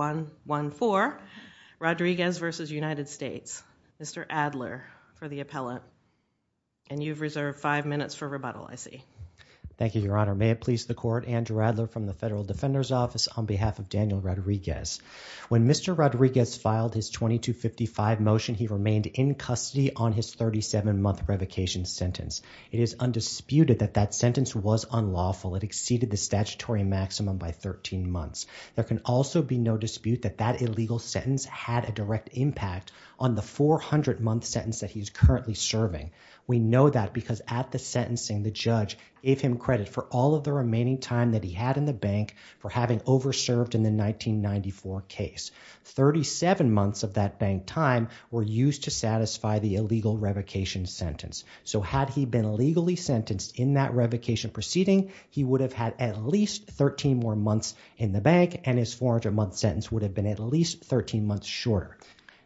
1-1-4, Rodriguez v. United States. Mr. Adler for the appellant. And you've reserved five minutes for rebuttal, I see. Thank you, Your Honor. May it please the court, Andrew Adler from the Federal Defender's Office on behalf of Daniel Rodriguez. When Mr. Rodriguez filed his 2255 motion, he remained in custody on his 37-month revocation sentence. It is undisputed that that sentence was unlawful. It exceeded the statutory maximum by 13 months. There can also be no dispute that that illegal sentence had a direct impact on the 400-month sentence that he's currently serving. We know that because at the sentencing, the judge gave him credit for all of the remaining time that he had in the bank for having over-served in the 1994 case. 37 months of that bank time were used to satisfy the illegal revocation sentence. So had he been legally sentenced in that revocation proceeding, he would have had at least 13 more months in the bank and his 400-month sentence would have been at least 13 months shorter.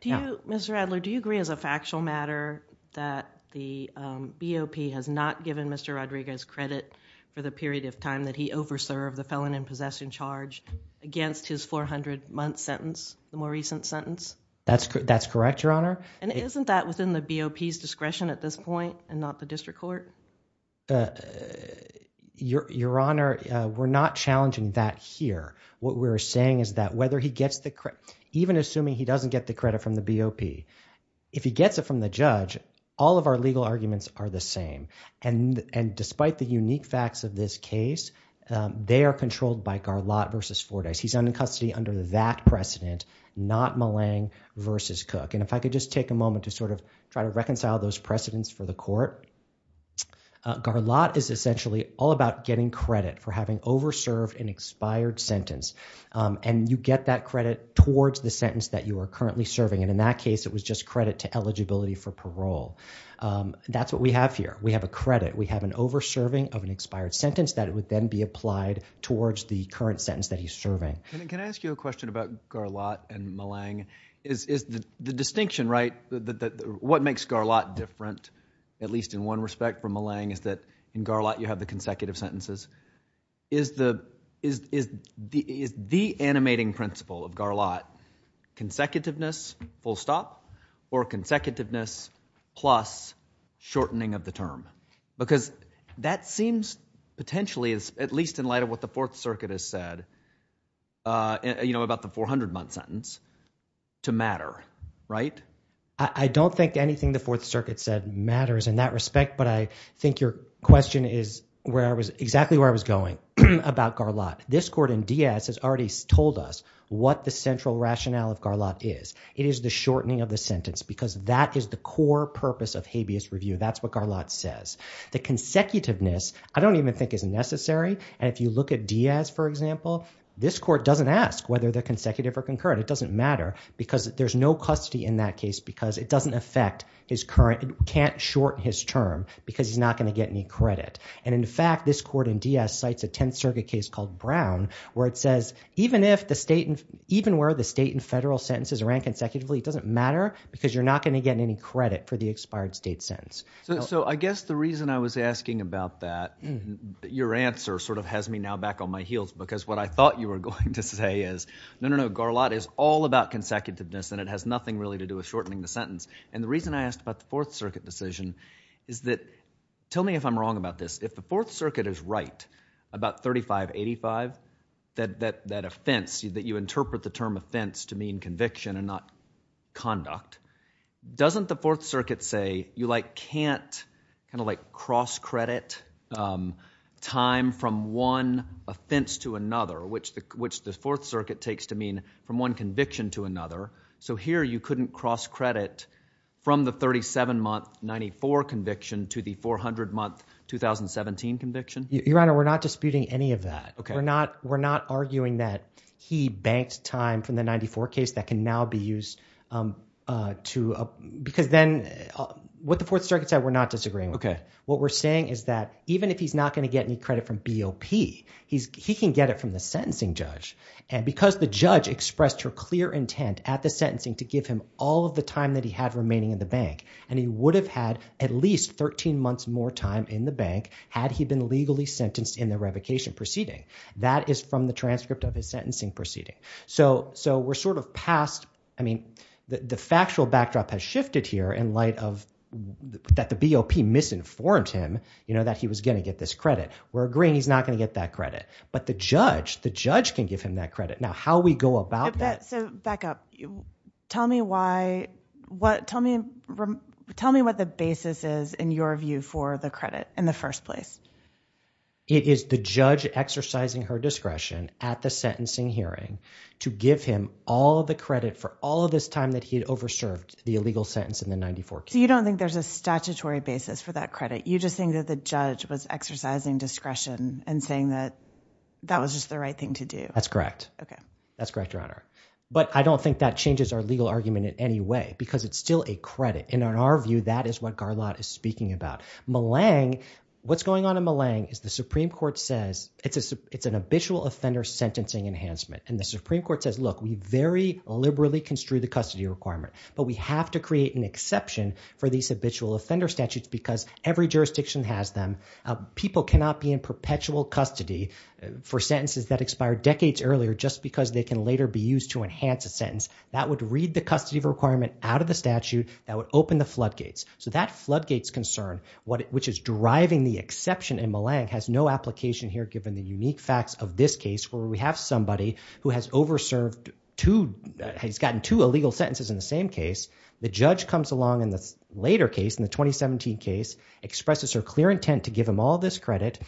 Mr. Adler, do you agree as a factual matter that the BOP has not given Mr. Rodriguez credit for the period of time that he over-served the felon in possession charge against his 400-month sentence, the more recent sentence? That's correct, Your Honor. And isn't that within the BOP's discretion at this point and not the district court? Your Honor, we're not challenging that here. What we're saying is that whether he gets the credit, even assuming he doesn't get the credit from the BOP, if he gets it from the judge, all of our legal arguments are the same. And despite the unique facts of this case, they are controlled by Garlotte v. Fordyce. He's in custody under that precedent, not Millang v. Cook. And if I could just take a moment to sort of try to reconcile those two. Garlotte is essentially all about getting credit for having over-served an expired sentence. And you get that credit towards the sentence that you are currently serving. And in that case, it was just credit to eligibility for parole. That's what we have here. We have a credit. We have an over-serving of an expired sentence that would then be applied towards the current sentence that he's serving. Can I ask you a question about Garlotte and Millang? Is the distinction, right, what makes Garlotte different, at least in one respect, from Millang, is that in Garlotte, you have the consecutive sentences. Is the animating principle of Garlotte consecutiveness, full stop, or consecutiveness plus shortening of the term? Because that seems potentially, at least in light of what the Fourth Circuit has said, you know, about the 400-month sentence, to matter, right? I don't think anything the Fourth Circuit said matters in that respect, but I think your question is exactly where I was going about Garlotte. This court in Diaz has already told us what the central rationale of Garlotte is. It is the shortening of the sentence, because that is the core purpose of habeas review. That's what Garlotte says. The consecutiveness, I don't even think is necessary. And if you look at Diaz, for example, this court doesn't ask whether they're consecutive or concurrent. It doesn't matter, because there's no custody in that case, because it doesn't affect his current, can't shorten his term, because he's not going to get any credit. And in fact, this court in Diaz cites a Tenth Circuit case called Brown, where it says, even if the state, even where the state and federal sentences are ran consecutively, it doesn't matter, because you're not going to get any credit for the expired state sentence. So I guess the reason I was asking about that, your answer sort of has me now back on my heels, because what I thought you were going to say is, no, no, no, Garlotte is all about consecutiveness, and it has nothing really to do with shortening the sentence. And the reason I asked about the Fourth Circuit decision is that, tell me if I'm wrong about this, if the Fourth Circuit is right about 3585, that offense, that you interpret the term offense to mean conviction and not conduct, doesn't the Fourth Circuit say, you can't kind of like cross-credit time from one offense to another, which the Fourth Circuit takes to mean from one conviction to another, so here you couldn't cross-credit from the 37-month 94 conviction to the 400-month 2017 conviction? Your Honor, we're not disputing any of that. We're not arguing that he banked time from the 94 case that can now be used to, because then, what the Fourth Circuit said, we're not disagreeing with. What we're saying is that, even if he's not going to get any credit from BOP, he can get it from the sentencing judge, and because the judge expressed her clear intent at the sentencing to give him all of the time that he had remaining in the bank, and he would have had at least 13 months more time in the bank had he been legally sentenced in the revocation proceeding. That is from the transcript of his sentencing proceeding. So we're sort of past, I mean, the factual backdrop has shifted here in light of that the BOP misinformed him that he was going to get this credit. We're agreeing he's not going to get that credit, but the judge, the judge can give him that credit. Now, how we go about that... So, back up. Tell me what the basis is in your view for the credit in the first place. It is the judge exercising her discretion at the sentencing hearing to give him all the credit for all of this time that he had over-served the illegal sentence in the 94 case. So you don't think there's a statutory basis for that credit? You just think that the judge was exercising discretion and saying that that was just the right thing to do? That's correct. Okay. That's correct, Your Honor. But I don't think that changes our legal argument in any way because it's still a credit, and in our view, that is what Garlot is speaking about. Malang, what's going on in Malang is the Supreme Court says it's an habitual offender sentencing enhancement, and the Supreme Court says, look, we very liberally construe the custody requirement, but we have to create an exception for these habitual offender statutes because every jurisdiction has them. People cannot be in perpetual custody for sentences that expire decades earlier just because they can later be used to enhance a sentence. That would read the custody requirement out of the statute. That would open the floodgates. So that floodgates concern, which is driving the exception in Malang, has no application here given the unique facts of this case where we have somebody who has over-served two... has been in the case. The judge comes along in the later case, in the 2017 case, expresses her clear intent to give him all this credit.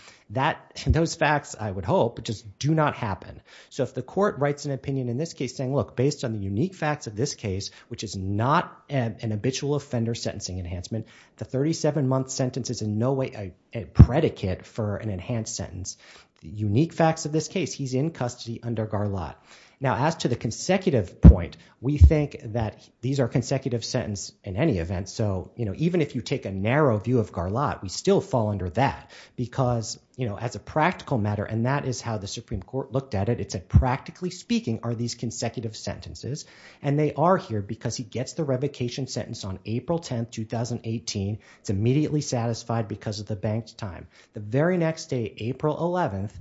Those facts, I would hope, just do not happen. So if the court writes an opinion in this case saying, look, based on the unique facts of this case, which is not an habitual offender sentencing enhancement, the 37-month sentence is in no way a predicate for an enhanced sentence. The unique facts of this case, he's in custody under Garlot. Now as to the consecutive point, we think that these are consecutive sentence in any event. So even if you take a narrow view of Garlot, we still fall under that because as a practical matter, and that is how the Supreme Court looked at it, it said practically speaking are these consecutive sentences? And they are here because he gets the revocation sentence on April 10th, 2018. It's immediately satisfied because of the bank's time. The very next day, April 11th,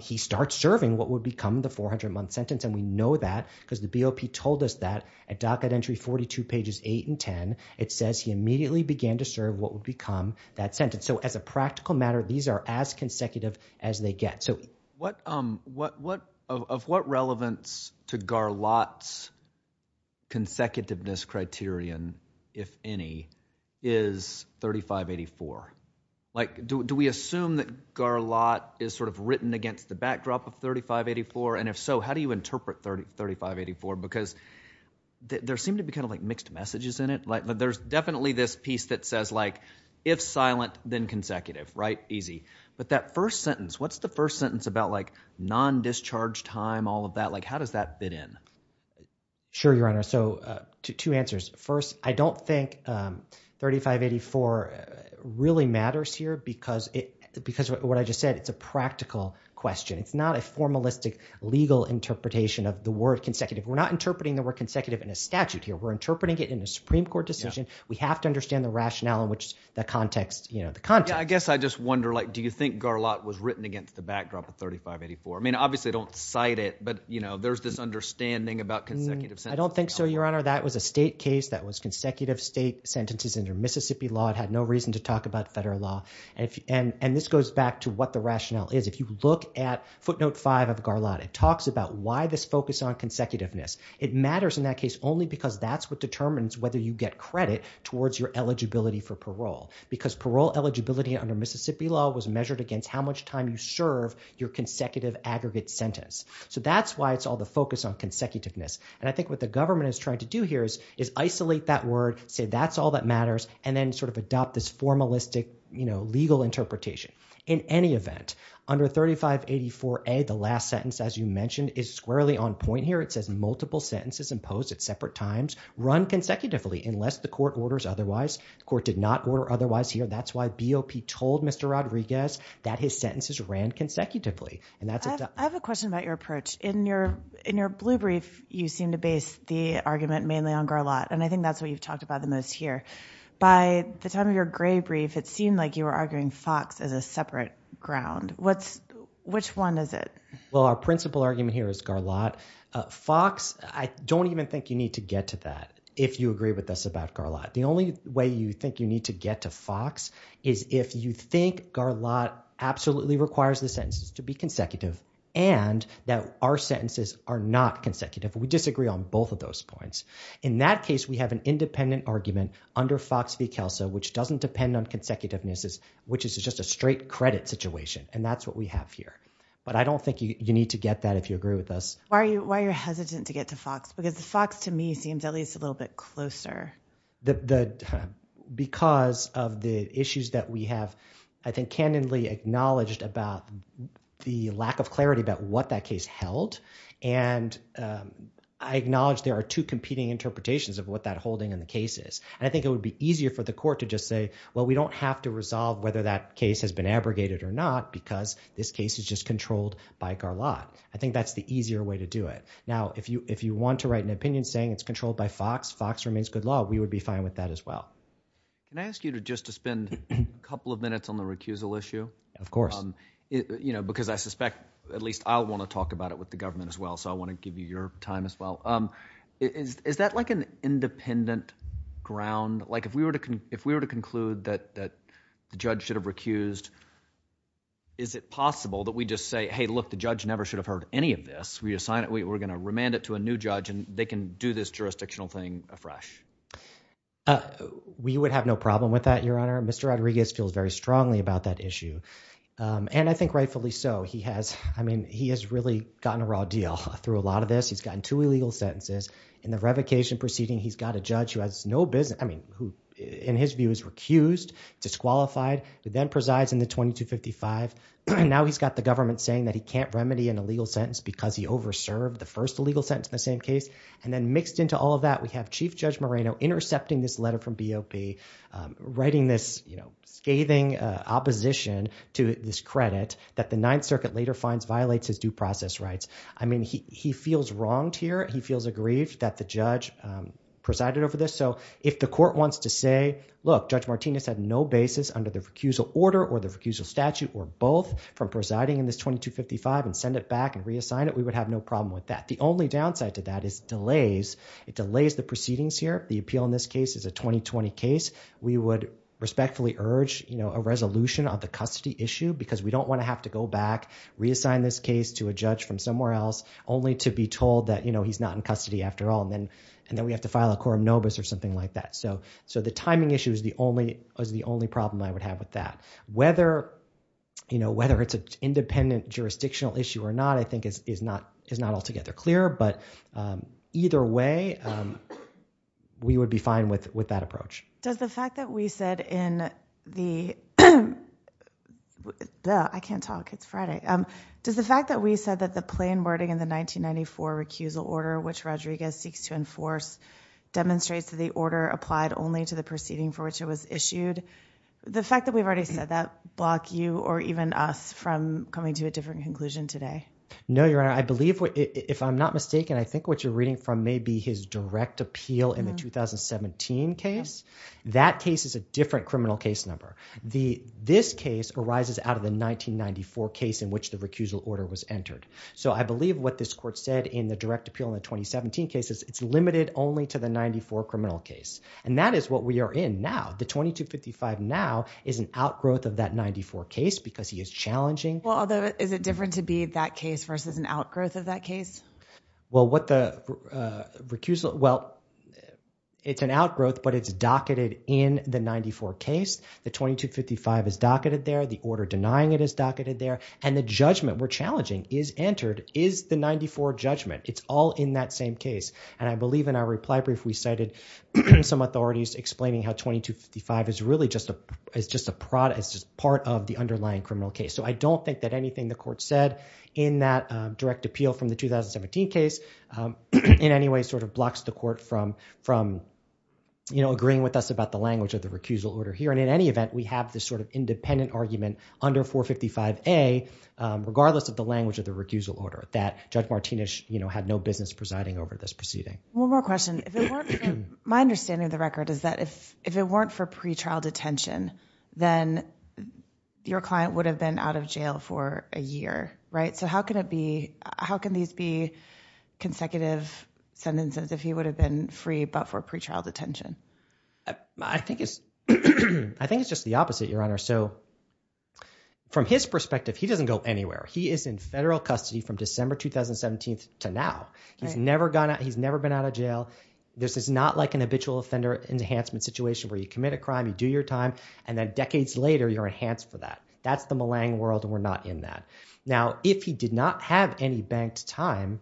he starts serving what would become the 400-month sentence. And we know that because the BOP told us that at docket entry 42 pages 8 and 10, it says he immediately began to serve what would become that sentence. So as a practical matter, these are as consecutive as they get. Of what relevance to Garlot's consecutiveness criterion, if any, is 3584? Like do we assume that Garlot is sort of written against the backdrop of 3584? And if so, how do you interpret 3584? Because there seem to be kind of like mixed messages in it. Like there's definitely this piece that says like if silent, then consecutive, right? Easy. But that first sentence, what's the first sentence about like non-discharge time, all of that? Like how does that fit in? Sure, Your Honor. So two answers. First, I don't think 3584 really matters here because what I just said, it's a practical question. It's not a formalistic legal interpretation of the word consecutive. We're not interpreting the word consecutive in a statute here. We're interpreting it in a Supreme Court decision. We have to understand the rationale in which the context, you know, the context. I guess I just wonder like do you think Garlot was written against the backdrop of 3584? I mean, obviously, I don't cite it, but you know, there's this understanding about consecutive sentences. I don't think so, Your Honor. That was a state case that was consecutive state sentences under Mississippi law. It had no reason to talk about federal law. And this goes back to what the rationale is. If you look at footnote five of Garlot, it talks about why this focus on consecutiveness. It matters in that case only because that's what determines whether you get credit towards your eligibility for parole because parole eligibility under Mississippi law was measured against how much time you serve your consecutive aggregate sentence. So that's why it's all the focus on consecutiveness. And I think what the government is trying to do here is isolate that word, say that's all that matters, and then sort of adopt this formalistic, you know, legal interpretation. In any event, under 3584A, the last sentence, as you mentioned, is squarely on point here. It says multiple sentences imposed at separate times run consecutively unless the court orders otherwise. The court did not order otherwise here. That's why BOP told Mr. Rodriguez that his sentences ran consecutively. I have a question about your approach. In your blue brief, you seem to base the argument mainly on Garlot, and I think that's what you've talked about the most here. By the time of your gray brief, it seemed like you were arguing Fox as a separate ground. Which one is it? Well, our principal argument here is Garlot. Fox, I don't even think you need to get to that if you agree with us about Garlot. The only way you think you need to get to Fox is if you think Garlot absolutely requires the sentences to be consecutive and that our In that case, we have an independent argument under Fox v. Kelso, which doesn't depend on consecutiveness, which is just a straight credit situation, and that's what we have here. But I don't think you need to get that if you agree with us. Why are you hesitant to get to Fox? Because Fox, to me, seems at least a little bit closer. Because of the issues that we have, I think, canonically acknowledged about the lack of interpretations of what that holding in the case is. And I think it would be easier for the court to just say, well, we don't have to resolve whether that case has been abrogated or not because this case is just controlled by Garlot. I think that's the easier way to do it. Now, if you want to write an opinion saying it's controlled by Fox, Fox remains good law. We would be fine with that as well. Can I ask you to just to spend a couple of minutes on the recusal issue? Of course. You know, because I suspect, at least I'll want to talk about it with the government as well, so I want to give you your time as well. Is that like an independent ground? Like if we were to conclude that the judge should have recused, is it possible that we just say, hey, look, the judge never should have heard any of this. We're going to remand it to a new judge and they can do this jurisdictional thing afresh. We would have no problem with that, Your Honor. Mr. Rodriguez feels very strongly about that deal. Through a lot of this, he's gotten two illegal sentences. In the revocation proceeding, he's got a judge who has no business, I mean, who in his view is recused, disqualified, who then presides in the 2255. Now he's got the government saying that he can't remedy an illegal sentence because he over-served the first illegal sentence in the same case. And then mixed into all of that, we have Chief Judge Moreno intercepting this letter from BOP, writing this, you know, scathing opposition to this credit that the Ninth Circuit later finds violates his due process rights. I mean, he feels wronged here. He feels aggrieved that the judge presided over this. So if the court wants to say, look, Judge Martinez had no basis under the recusal order or the recusal statute or both from presiding in this 2255 and send it back and reassign it, we would have no problem with that. The only downside to that is delays. It delays the proceedings here. The appeal in this case is a 2020 case. We would respectfully urge, you know, a resolution on the custody issue because we don't want to have to go back, reassign this case to a judge from somewhere else only to be told that, you know, he's not in custody after all. And then we have to file a quorum nobis or something like that. So the timing issue is the only problem I would have with that. Whether, you know, whether it's an independent jurisdictional issue or not I think is not altogether clear. But either way, we would be fine with that approach. Does the fact that we said in the, I can't talk, it's Friday. Does the fact that we said that the plain wording in the 1994 recusal order which Rodriguez seeks to enforce demonstrates that the order applied only to the proceeding for which it was issued, the fact that we've already said that block you or even us from coming to a different conclusion today? No, Your Honor. I believe, if I'm not mistaken, I think what you're reading from may be his direct appeal in the 2017 case. That case is a different criminal case number. The, this case arises out of the 1994 case in which the recusal order was entered. So I believe what this court said in the direct appeal in the 2017 cases, it's limited only to the 94 criminal case. And that is what we are in now. The 2255 now is an outgrowth of that 94 case because he is challenging. Well, although, is it different to be that case versus an outgrowth of that case? Well, what the recusal, well, it's an outgrowth, but it's docketed in the 94 case. The 2255 is docketed there. The order denying it is docketed there. And the judgment we're challenging is entered is the 94 judgment. It's all in that same case. And I believe in our reply brief we cited some authorities explaining how 2255 is really just a, it's just a product, it's just part of the underlying criminal case. So I don't think that anything the court said in that direct appeal from the 2017 case in any way sort of blocks the court from, from, you know, agreeing with us about the language of the recusal order here. And in any event, we have this sort of independent argument under 455A regardless of the language of the recusal order that Judge Martinez, you know, had no business presiding over this proceeding. One more question. If it weren't, my understanding of the record is that if, if it weren't for be, how can these be consecutive sentences if he would have been free but for pretrial detention? I think it's, I think it's just the opposite, Your Honor. So from his perspective, he doesn't go anywhere. He is in federal custody from December 2017 to now. He's never gone out, he's never been out of jail. This is not like an habitual offender enhancement situation where you commit a crime, you do your time, and then decades later you're enhanced for that. That's the Malang world and we're not in that. Now, if he did not have any banked time,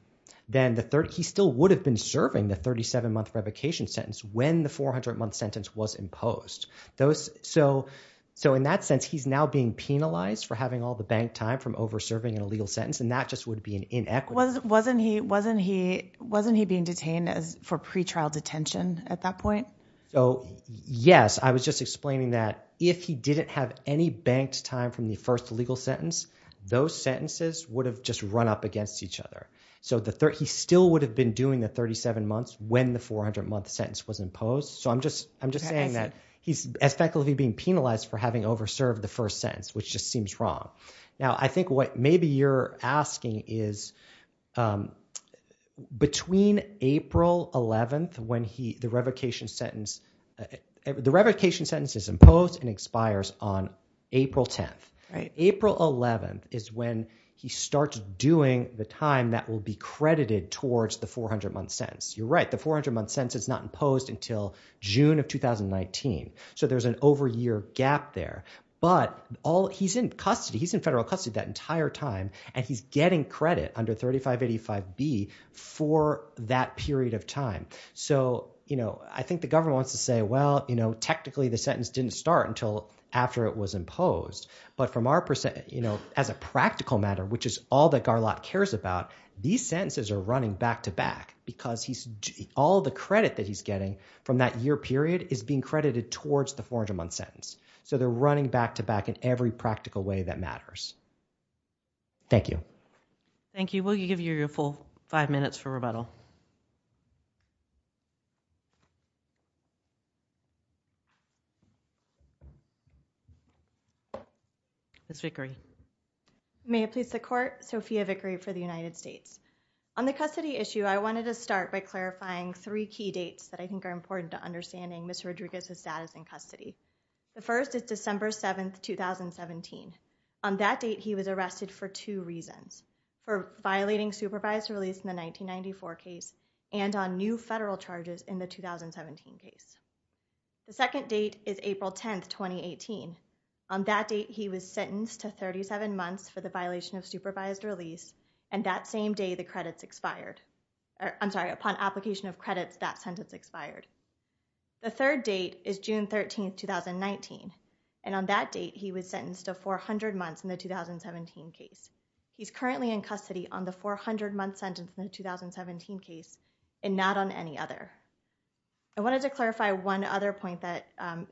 then the 30, he still would have been serving the 37 month revocation sentence when the 400 month sentence was imposed. Those, so, so in that sense, he's now being penalized for having all the banked time from over serving an illegal sentence and that just would be an inequity. Wasn't, wasn't he, wasn't he, wasn't he being detained as for pretrial detention at that point? So, yes, I was just explaining that if he didn't have any banked time from the first legal sentence, those sentences would have just run up against each other. So the 30, he still would have been doing the 37 months when the 400 month sentence was imposed. So I'm just, I'm just saying that he's effectively being penalized for having over served the first sentence, which just seems wrong. Now, I think what maybe you're asking is, um, between April 11th, when he, the revocation sentence, the revocation sentence is imposed and expires on April 10th, right? April 11th is when he starts doing the time that will be credited towards the 400 month sentence. You're right. The 400 month sentence is not imposed until June of 2019. So there's an over year gap there, but all he's in custody, he's in federal custody that entire time and he's getting credit under 3585B for that period of time. So, you know, I think the government wants to say, well, you know, technically the sentence didn't start until after it was imposed, but from our percent, you know, as a practical matter, which is all that Garlot cares about, these sentences are running back to back because he's all the credit that he's getting from that year period is being credited towards the 400 month sentence. So they're running back to back in every practical way that matters. Thank you. Thank you. Will you give your full five minutes for rebuttal? Ms. Vickery. May it please the court, Sophia Vickery for the United States. On the custody issue, I wanted to start by clarifying three key dates that I think are important to understanding Mr. Rodriguez's status in custody. The first is December 7th, 2017. On that date, he was arrested for two reasons, for violating supervised release in the 1994 case and on new federal charges in the 2017 case. The second date is April 10th, 2018. On that date, he was sentenced to 37 months for the violation of supervised release. And that same day, the credits expired. I'm sorry, upon application of credits, that sentence expired. The third date is June 13th, 2019. And on that date, he was sentenced to 400 months in the 2017 case. He's currently in custody on the 400 month sentence in the 2017 case and not on any other. I wanted to clarify one other point that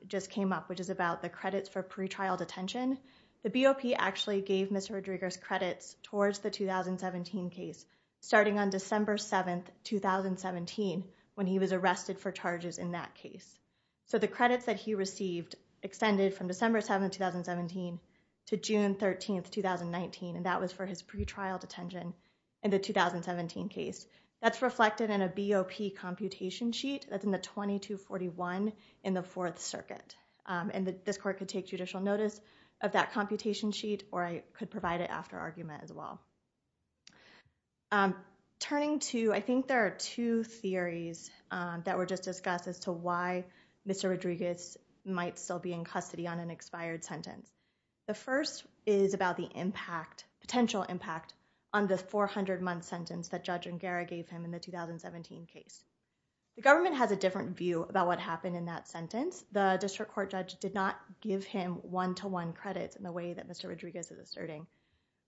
just came up, which is about the credits for pretrial detention. The BOP actually gave Mr. Rodriguez credits towards the 2017 case, starting on December 7th, 2017, when he was arrested for charges in that case. So the credits that he received extended from December 7th, 2017 to June 13th, 2019. And that was for his pretrial detention in the 2017 case. That's reflected in a BOP computation sheet that's in the 2241 in the Fourth Circuit. This court could take judicial notice of that computation sheet, or I could provide it after argument as well. Turning to, I think there are two theories that were just discussed as to why Mr. Rodriguez might still be in custody on an expired sentence. The first is about the potential impact on the 400 month sentence that Judge Ungara gave him in the 2017 case. The government has a different view about what happened in that sentence. The district court judge did not give him one-to-one credits in the way that Mr. Rodriguez is asserting.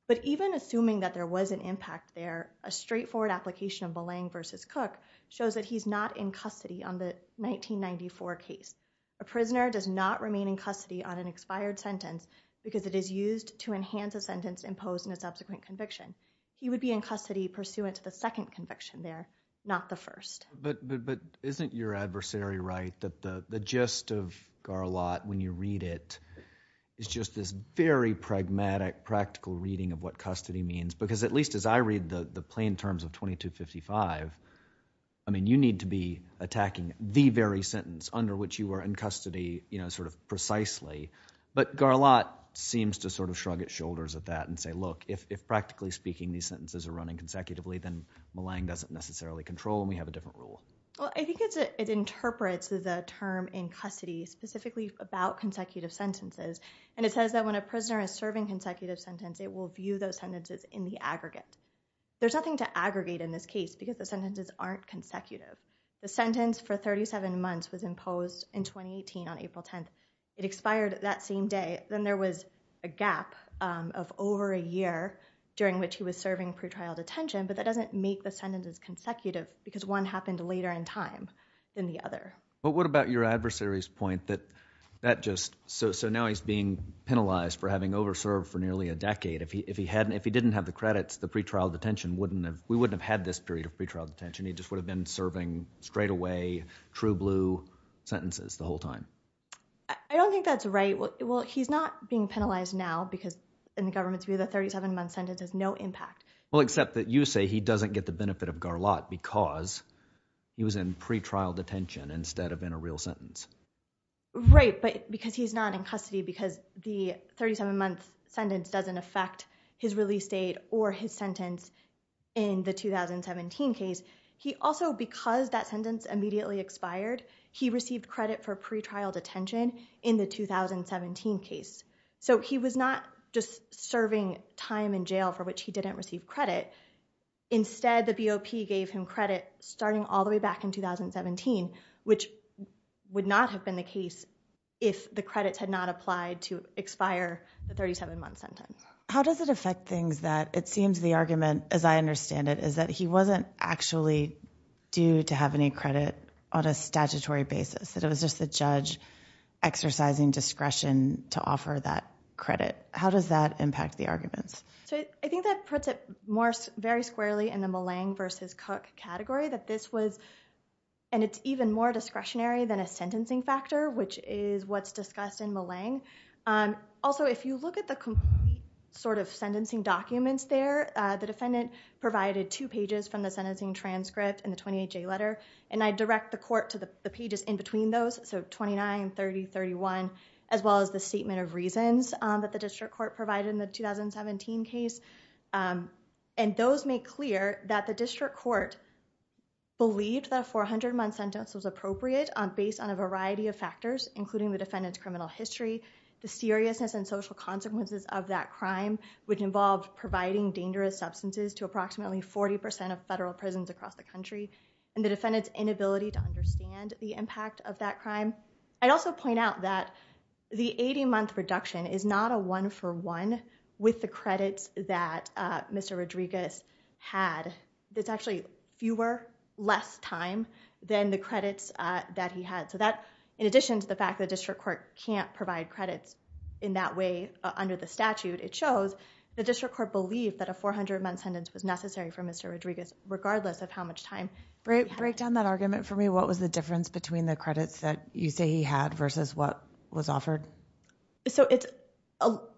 But even assuming that there was an impact there, a straightforward application of Belang v. Cook shows that he's not in custody on the 1994 case. A prisoner does not remain in custody on an expired sentence because it is used to enhance a sentence imposed in a subsequent conviction. He would be in custody pursuant to the second conviction there, not the first. But isn't your adversary right that the gist of Garlotte when you read it is just this very pragmatic, practical reading of what custody means? Because at least as I read the plain terms of 2255, I mean you need to be attacking the very sentence under which you were in custody, you know, sort of precisely. But Garlotte seems to sort of shrug its shoulders at that and say, look, if practically speaking these sentences are running consecutively, then Belang doesn't necessarily control and we have a different rule. Well, I think it's it interprets the term in custody specifically about consecutive sentences. And it says that when a prisoner is serving consecutive sentence, it will view those sentences in the aggregate. There's nothing to aggregate in this case because the sentences aren't consecutive. The sentence for 37 months was imposed in 2018 on April 10th. It expired that same day. Then there was a gap of over a year during which he was serving pretrial detention. But that doesn't make the sentences consecutive because one happened later in time than the other. But what about your adversary's point that that just so now he's being penalized for having over served for nearly a decade. If he hadn't, if he didn't have the credits, the pretrial detention wouldn't have, we wouldn't have had this period of pretrial detention. He just would have been serving straightaway true blue sentences the I don't think that's right. Well, he's not being penalized now because in the government's view, the 37 month sentence has no impact. Well, except that you say he doesn't get the benefit of Garlotte because he was in pretrial detention instead of in a real sentence. Right. But because he's not in custody because the 37 month sentence doesn't affect his release date or his sentence in the pretrial detention in the 2017 case. So he was not just serving time in jail for which he didn't receive credit. Instead, the BOP gave him credit starting all the way back in 2017, which would not have been the case if the credits had not applied to expire the 37 month sentence. How does it affect things that it seems the argument, as I understand it, is that he wasn't actually due to have any credit on a statutory basis, that it was just the judge exercising discretion to offer that credit. How does that impact the arguments? So I think that puts it more very squarely in the Malang versus Cook category that this was and it's even more discretionary than a sentencing factor, which is what's discussed in Malang. Also, if you look at the sort of sentencing documents there, the defendant provided two pages from the sentencing transcript and the 28-J letter, and I direct the court to the pages in between those. So 29, 30, 31, as well as the statement of reasons that the district court provided in the 2017 case. And those make clear that the district court believed that a 400 month sentence was appropriate based on a variety of factors, including the defendant's criminal history, the seriousness and social consequences of that crime, which involved providing dangerous substances to approximately 40 percent of federal prisons across the country, and the defendant's inability to understand the impact of that crime. I'd also point out that the 80-month reduction is not a one-for-one with the credits that Mr. Rodriguez had. It's actually fewer, less time than the credits that he had. So that, in addition to the fact the district court can't provide credits in that way under the statute, it shows the district court believed that a 400-month sentence was necessary for Mr. Rodriguez, regardless of how much time he had. Break down that argument for me. What was the difference between the credits that you say he had versus what was offered? So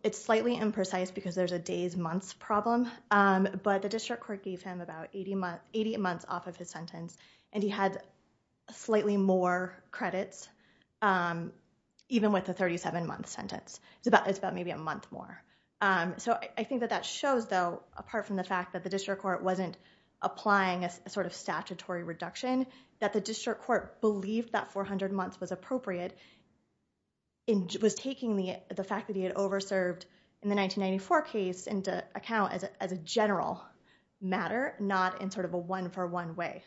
it's slightly imprecise because there's a days-months problem, but the district court gave him about 80 months off of his sentence, and he had slightly more credits, even with the 37-month sentence. It's about maybe a month more. So I think that that shows, though, apart from the fact that the district court wasn't applying a sort of statutory reduction, that the district court believed that 400 months was appropriate, and was taking the fact that he had over-served in the 1994 case into account as a general matter, not in sort of a one-for-one way.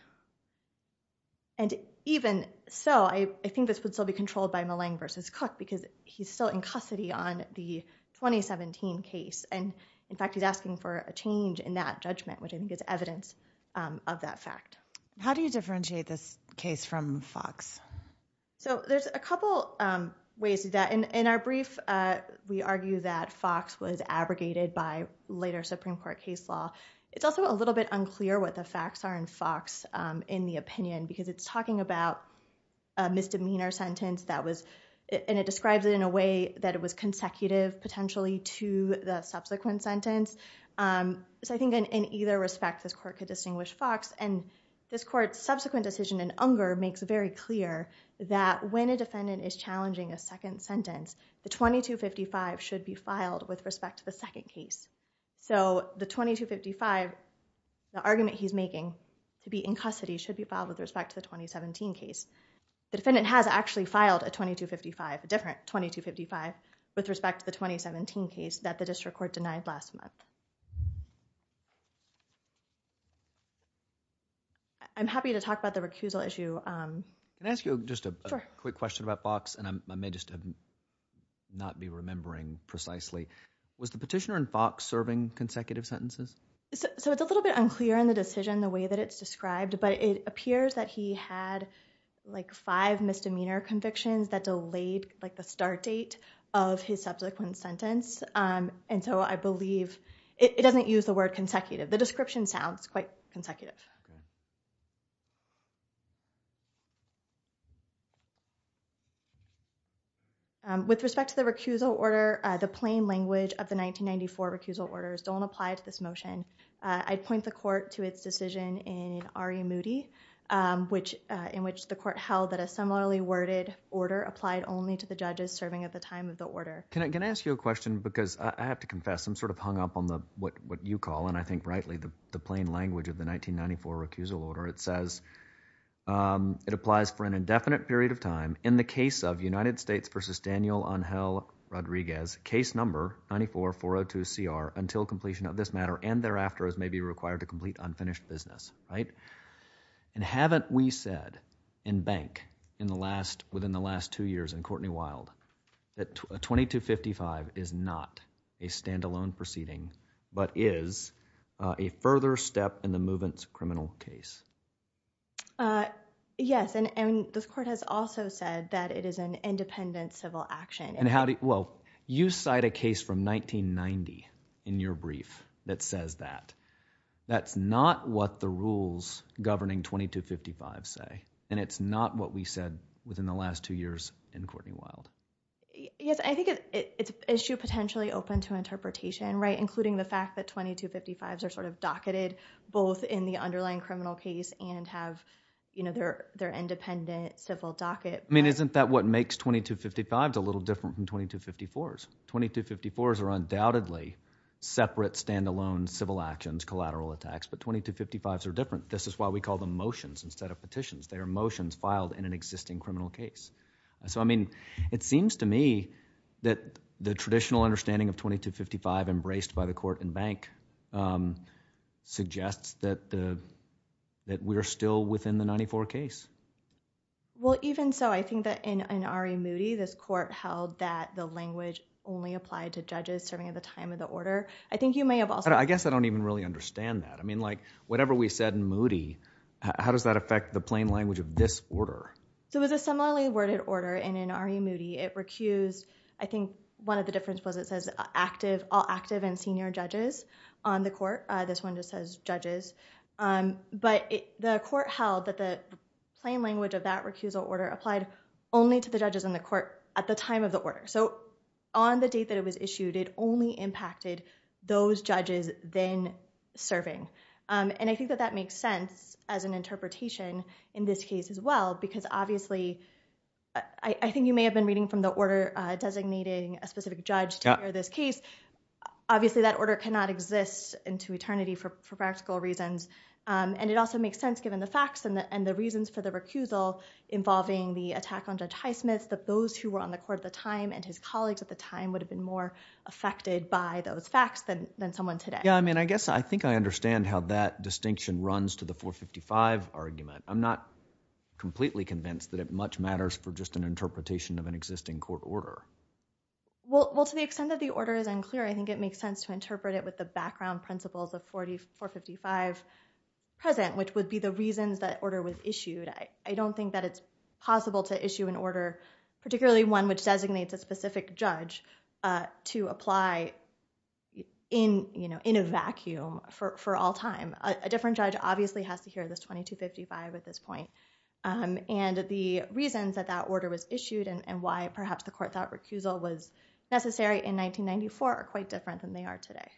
And even so, I think this would still be controlled by Malang versus Cook because he's still in custody on the 2017 case, and in fact he's asking for a change in that judgment, which I think is evidence of that fact. How do you differentiate this case from Fox? So there's a couple ways to do that. In our brief, we argue that Fox was abrogated by later Supreme Court case law. It's also a little bit unclear what the facts are in Fox, in the opinion, because it's talking about a misdemeanor sentence that was, and it describes it in a way that it was consecutive potentially to the subsequent sentence. So I think in either respect, this court could distinguish Fox, and this court's subsequent decision in Unger makes very clear that when a defendant is challenging a second sentence, the 2255 should be filed with respect to the second case. So the 2255, the argument he's making to be in custody should be filed with respect to the 2017 case. The defendant has actually filed a 2255, a different 2255, with respect to the 2017 case that the district court denied last month. I'm happy to talk about the recusal issue. Can I ask you just a quick question about Fox? And I may just not be remembering precisely. Was the petitioner in Fox serving consecutive sentences? So it's a little bit unclear in the decision the way that it's described, but it appears that he had like five misdemeanor convictions that delayed like the start date of his subsequent sentence. And so I believe, it doesn't use the word consecutive. The description sounds quite like consecutive. With respect to the recusal order, the plain language of the 1994 recusal orders don't apply to this motion. I'd point the court to its decision in Ari Moody, in which the court held that a similarly worded order applied only to the judges serving at the time of the order. Can I ask you a question? Because I have to confess, I'm sort of hung up on what you call, and I think rightly, the plain language of the 1994 recusal order. It says, it applies for an indefinite period of time in the case of United States versus Daniel Angel Rodriguez, case number 94402CR until completion of this matter and thereafter as may be required to complete unfinished business, right? And haven't we said in bank within the last two years, in Courtney Wild, that 2255 is not a standalone proceeding, but is a further step in the movement's criminal case? Yes, and this court has also said that it is an independent civil action. And how do, well, you cite a case from 1990 in your brief that says that. That's not what the rules governing 2255 say, and it's not what we said within the last two years in Courtney Wild. Yes, I think it's an issue potentially open to interpretation, right? Including the fact that 2255s are sort of docketed both in the underlying criminal case and have, you know, their independent civil docket. I mean, isn't that what makes 2255s a little different from 2254s? 2254s are undoubtedly separate standalone civil actions, collateral attacks, but 2255s are different. This is why we call them motions instead of petitions. They are motions filed in an existing criminal case. So, I mean, it seems to me that the traditional understanding of 2255 embraced by the court and bank suggests that we're still within the 94 case. Well, even so, I think that in R.E. Moody, this court held that the language only applied to judges serving at the time of the order. I think you may have also... I guess I don't even really understand that. I mean, like, whatever we said in Moody, how does that affect the plain language of this order? So, it was a similarly worded order, and in R.E. Moody, it recused... I think one of the difference was it says active... all active and senior judges on the court. This one just says judges. But the court held that the plain language of that recusal order applied only to the judges in the court at the time of the order. So, on the date that it was issued, it only impacted those judges then serving. And I think that that makes sense as an interpretation in this case as well because obviously... I think you may have been reading from the order designating a specific judge to hear this case. Obviously, that order cannot exist into eternity for practical reasons. And it also makes sense given the facts and the reasons for the recusal involving the attack on Judge Highsmith that those who were on the court at the time and his colleagues at the time would have been more affected by those facts than someone today. Yeah. I mean, I guess I think I understand how that distinction runs to the 455 argument. I'm not completely convinced that it much matters for just an interpretation of an existing court order. Well, to the extent that the order is unclear, I think it makes sense to interpret it with the background principles of 455 present, which would be the reasons that order was issued. I don't think that it's possible to issue an order, particularly one which designates a specific judge, to apply in a vacuum for all time. A different judge obviously has to hear this 2255 at this point. And the reasons that that order was issued and why perhaps the court thought recusal was necessary in 1994 are quite different than they are today.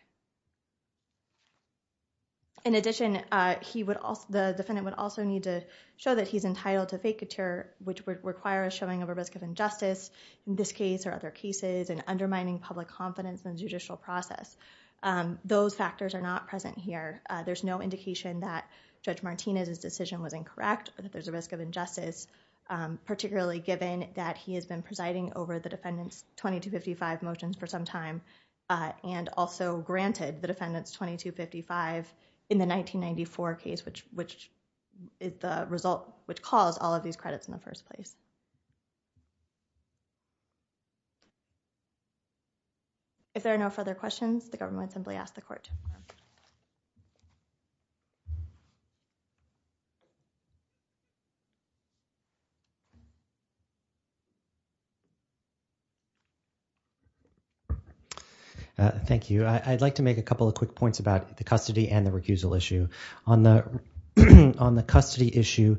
In addition, the defendant would also need to show that he's entitled to vacatur, which would require a showing of a risk of injustice in this case or other cases and undermining public confidence in the judicial process. Those factors are not present here. There's no indication that Judge Martinez's decision was incorrect or that there's a risk of injustice, particularly given that he has been presiding over the defendant's 2255 motions for some time and also granted the defendant's 2255 in the 1994 case, which is the result which caused all of these credits in the first place. If there are no further questions, the government simply asked the court. Thank you. I'd like to make a couple of quick points about the custody and the recusal issue. On the custody issue,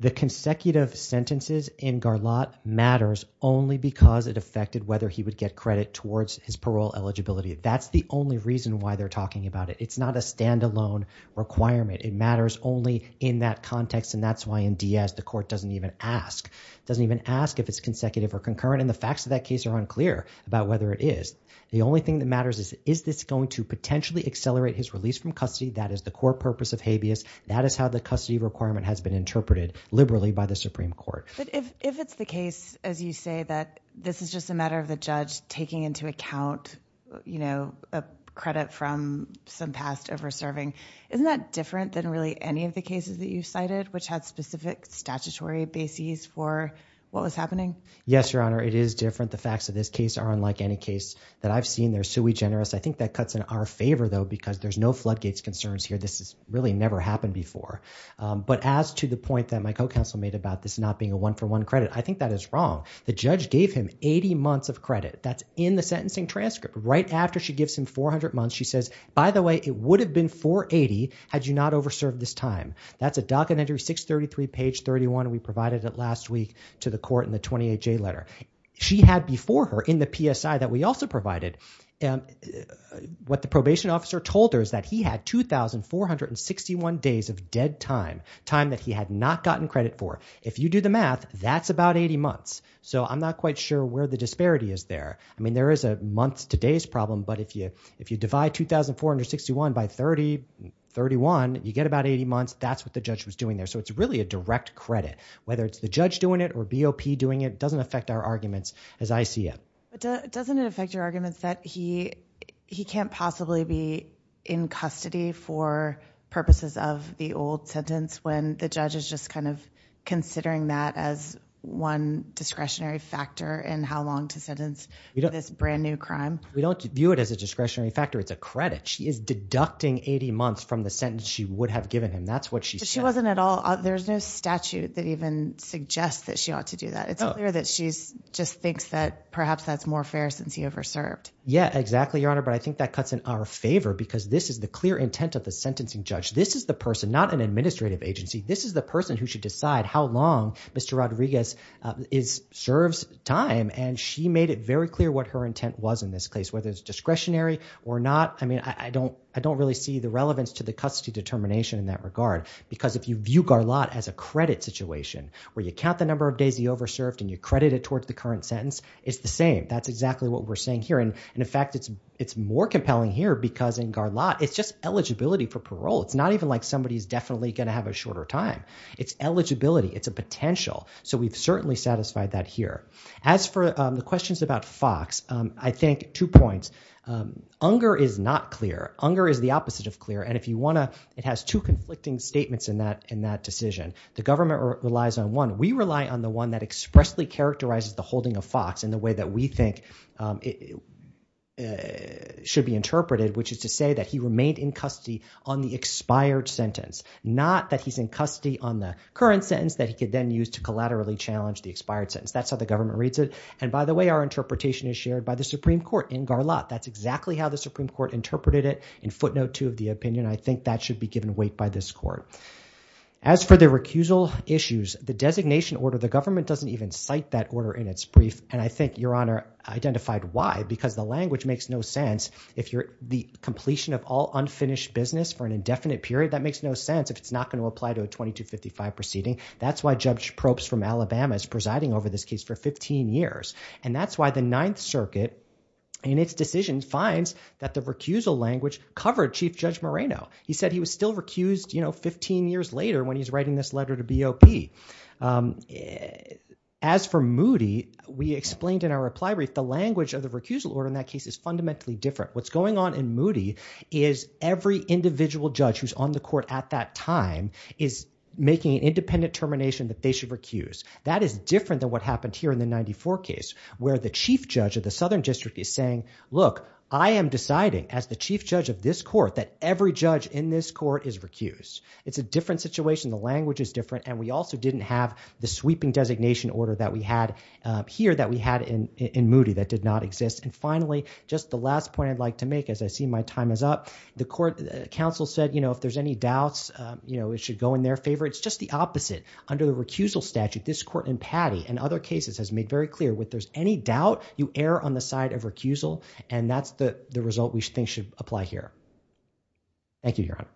the consecutive sentences in Garlotte matters only because it affected whether he would get credit towards his parole eligibility. That's the only reason why they're talking about it. It's not a standalone requirement. It matters only in that context, and that's why in Diaz the court doesn't even ask. It doesn't even ask if it's consecutive or concurrent, and the facts of that case are unclear about whether it is. The only thing that that is how the custody requirement has been interpreted liberally by the Supreme Court. But if it's the case, as you say, that this is just a matter of the judge taking into account a credit from some past over-serving, isn't that different than really any of the cases that you cited which had specific statutory bases for what was happening? Yes, Your Honor. It is different. The facts of this case are unlike any case that I've seen. They're sui generis. I think that cuts in our favor, though, because there's no floodgates concerns here. This has really never happened before. But as to the point that my co-counsel made about this not being a one-for-one credit, I think that is wrong. The judge gave him 80 months of credit. That's in the sentencing transcript. Right after she gives him 400 months, she says, by the way, it would have been 480 had you not over-served this time. That's a docket entry 633, page 31. We provided it last week to the court in the 28J letter. She had before her in the PSI that we also provided. What the probation officer told her is that he had 2,461 days of dead time, time that he had not gotten credit for. If you do the math, that's about 80 months. So I'm not quite sure where the disparity is there. I mean, there is a months to days problem. But if you divide 2,461 by 30, 31, you get about 80 months. That's what the judge was doing there. So it's really a direct credit. Whether it's the judge doing it or BOP doing it doesn't affect our arguments that he can't possibly be in custody for purposes of the old sentence when the judge is just kind of considering that as one discretionary factor in how long to sentence this brand new crime. We don't view it as a discretionary factor. It's a credit. She is deducting 80 months from the sentence she would have given him. That's what she said. She wasn't at all. There's no statute that even suggests that she ought to do that. It's clear that she's perhaps that's more fair since he over served. Yeah, exactly, Your Honor. But I think that cuts in our favor because this is the clear intent of the sentencing judge. This is the person, not an administrative agency. This is the person who should decide how long Mr. Rodriguez serves time. And she made it very clear what her intent was in this case, whether it's discretionary or not. I mean, I don't really see the relevance to the custody determination in that regard. Because if you view Garlotte as a credit situation where you count the number of days he over served and you credit it towards the current sentence, it's the same. That's exactly what we're saying here. And in fact, it's more compelling here because in Garlotte, it's just eligibility for parole. It's not even like somebody is definitely going to have a shorter time. It's eligibility. It's a potential. So we've certainly satisfied that here. As for the questions about Fox, I think two points. Unger is not clear. Unger is the opposite of clear. And if you want to, it has two conflicting statements in that decision. The government relies on one. We rely on the one that expressly characterizes the holding of Fox in the way that we think should be interpreted, which is to say that he remained in custody on the expired sentence, not that he's in custody on the current sentence that he could then use to collaterally challenge the expired sentence. That's how the government reads it. And by the way, our interpretation is shared by the Supreme Court in Garlotte. That's exactly how the Supreme Court interpreted it in footnote two of the opinion. I think that should be given weight by this court. As for the recusal issues, the designation order, the government doesn't even cite that order in its brief. And I think Your Honor identified why, because the language makes no sense. If you're the completion of all unfinished business for an indefinite period, that makes no sense if it's not going to apply to a 2255 proceeding. That's why Judge Probst from Alabama is presiding over this case for 15 years. And that's why the Ninth Circuit in its decision finds that the recusal language covered Chief Judge Moreno. He said he was still recused 15 years later when he's writing this letter to BOP. As for Moody, we explained in our reply brief, the language of the recusal order in that case is fundamentally different. What's going on in Moody is every individual judge who's on the court at that time is making an independent termination that they should recuse. That is different than what happened here in the 94 case, where the Chief Judge of the Southern District is saying, look, I am deciding as the Chief Judge of this court that every judge in this court is recused. It's a different situation. The language is different. And we also didn't have the sweeping designation order that we had here that we had in Moody that did not exist. And finally, just the last point I'd like to make, as I see my time is up, the court counsel said, you know, if there's any doubts, you know, it should go in their favor. It's just the opposite. Under the recusal statute, this court in Patty and other cases has made very clear, if there's any doubt, you err on the side of recusal, and that's the result we think should apply here. Thank you, Your Honor.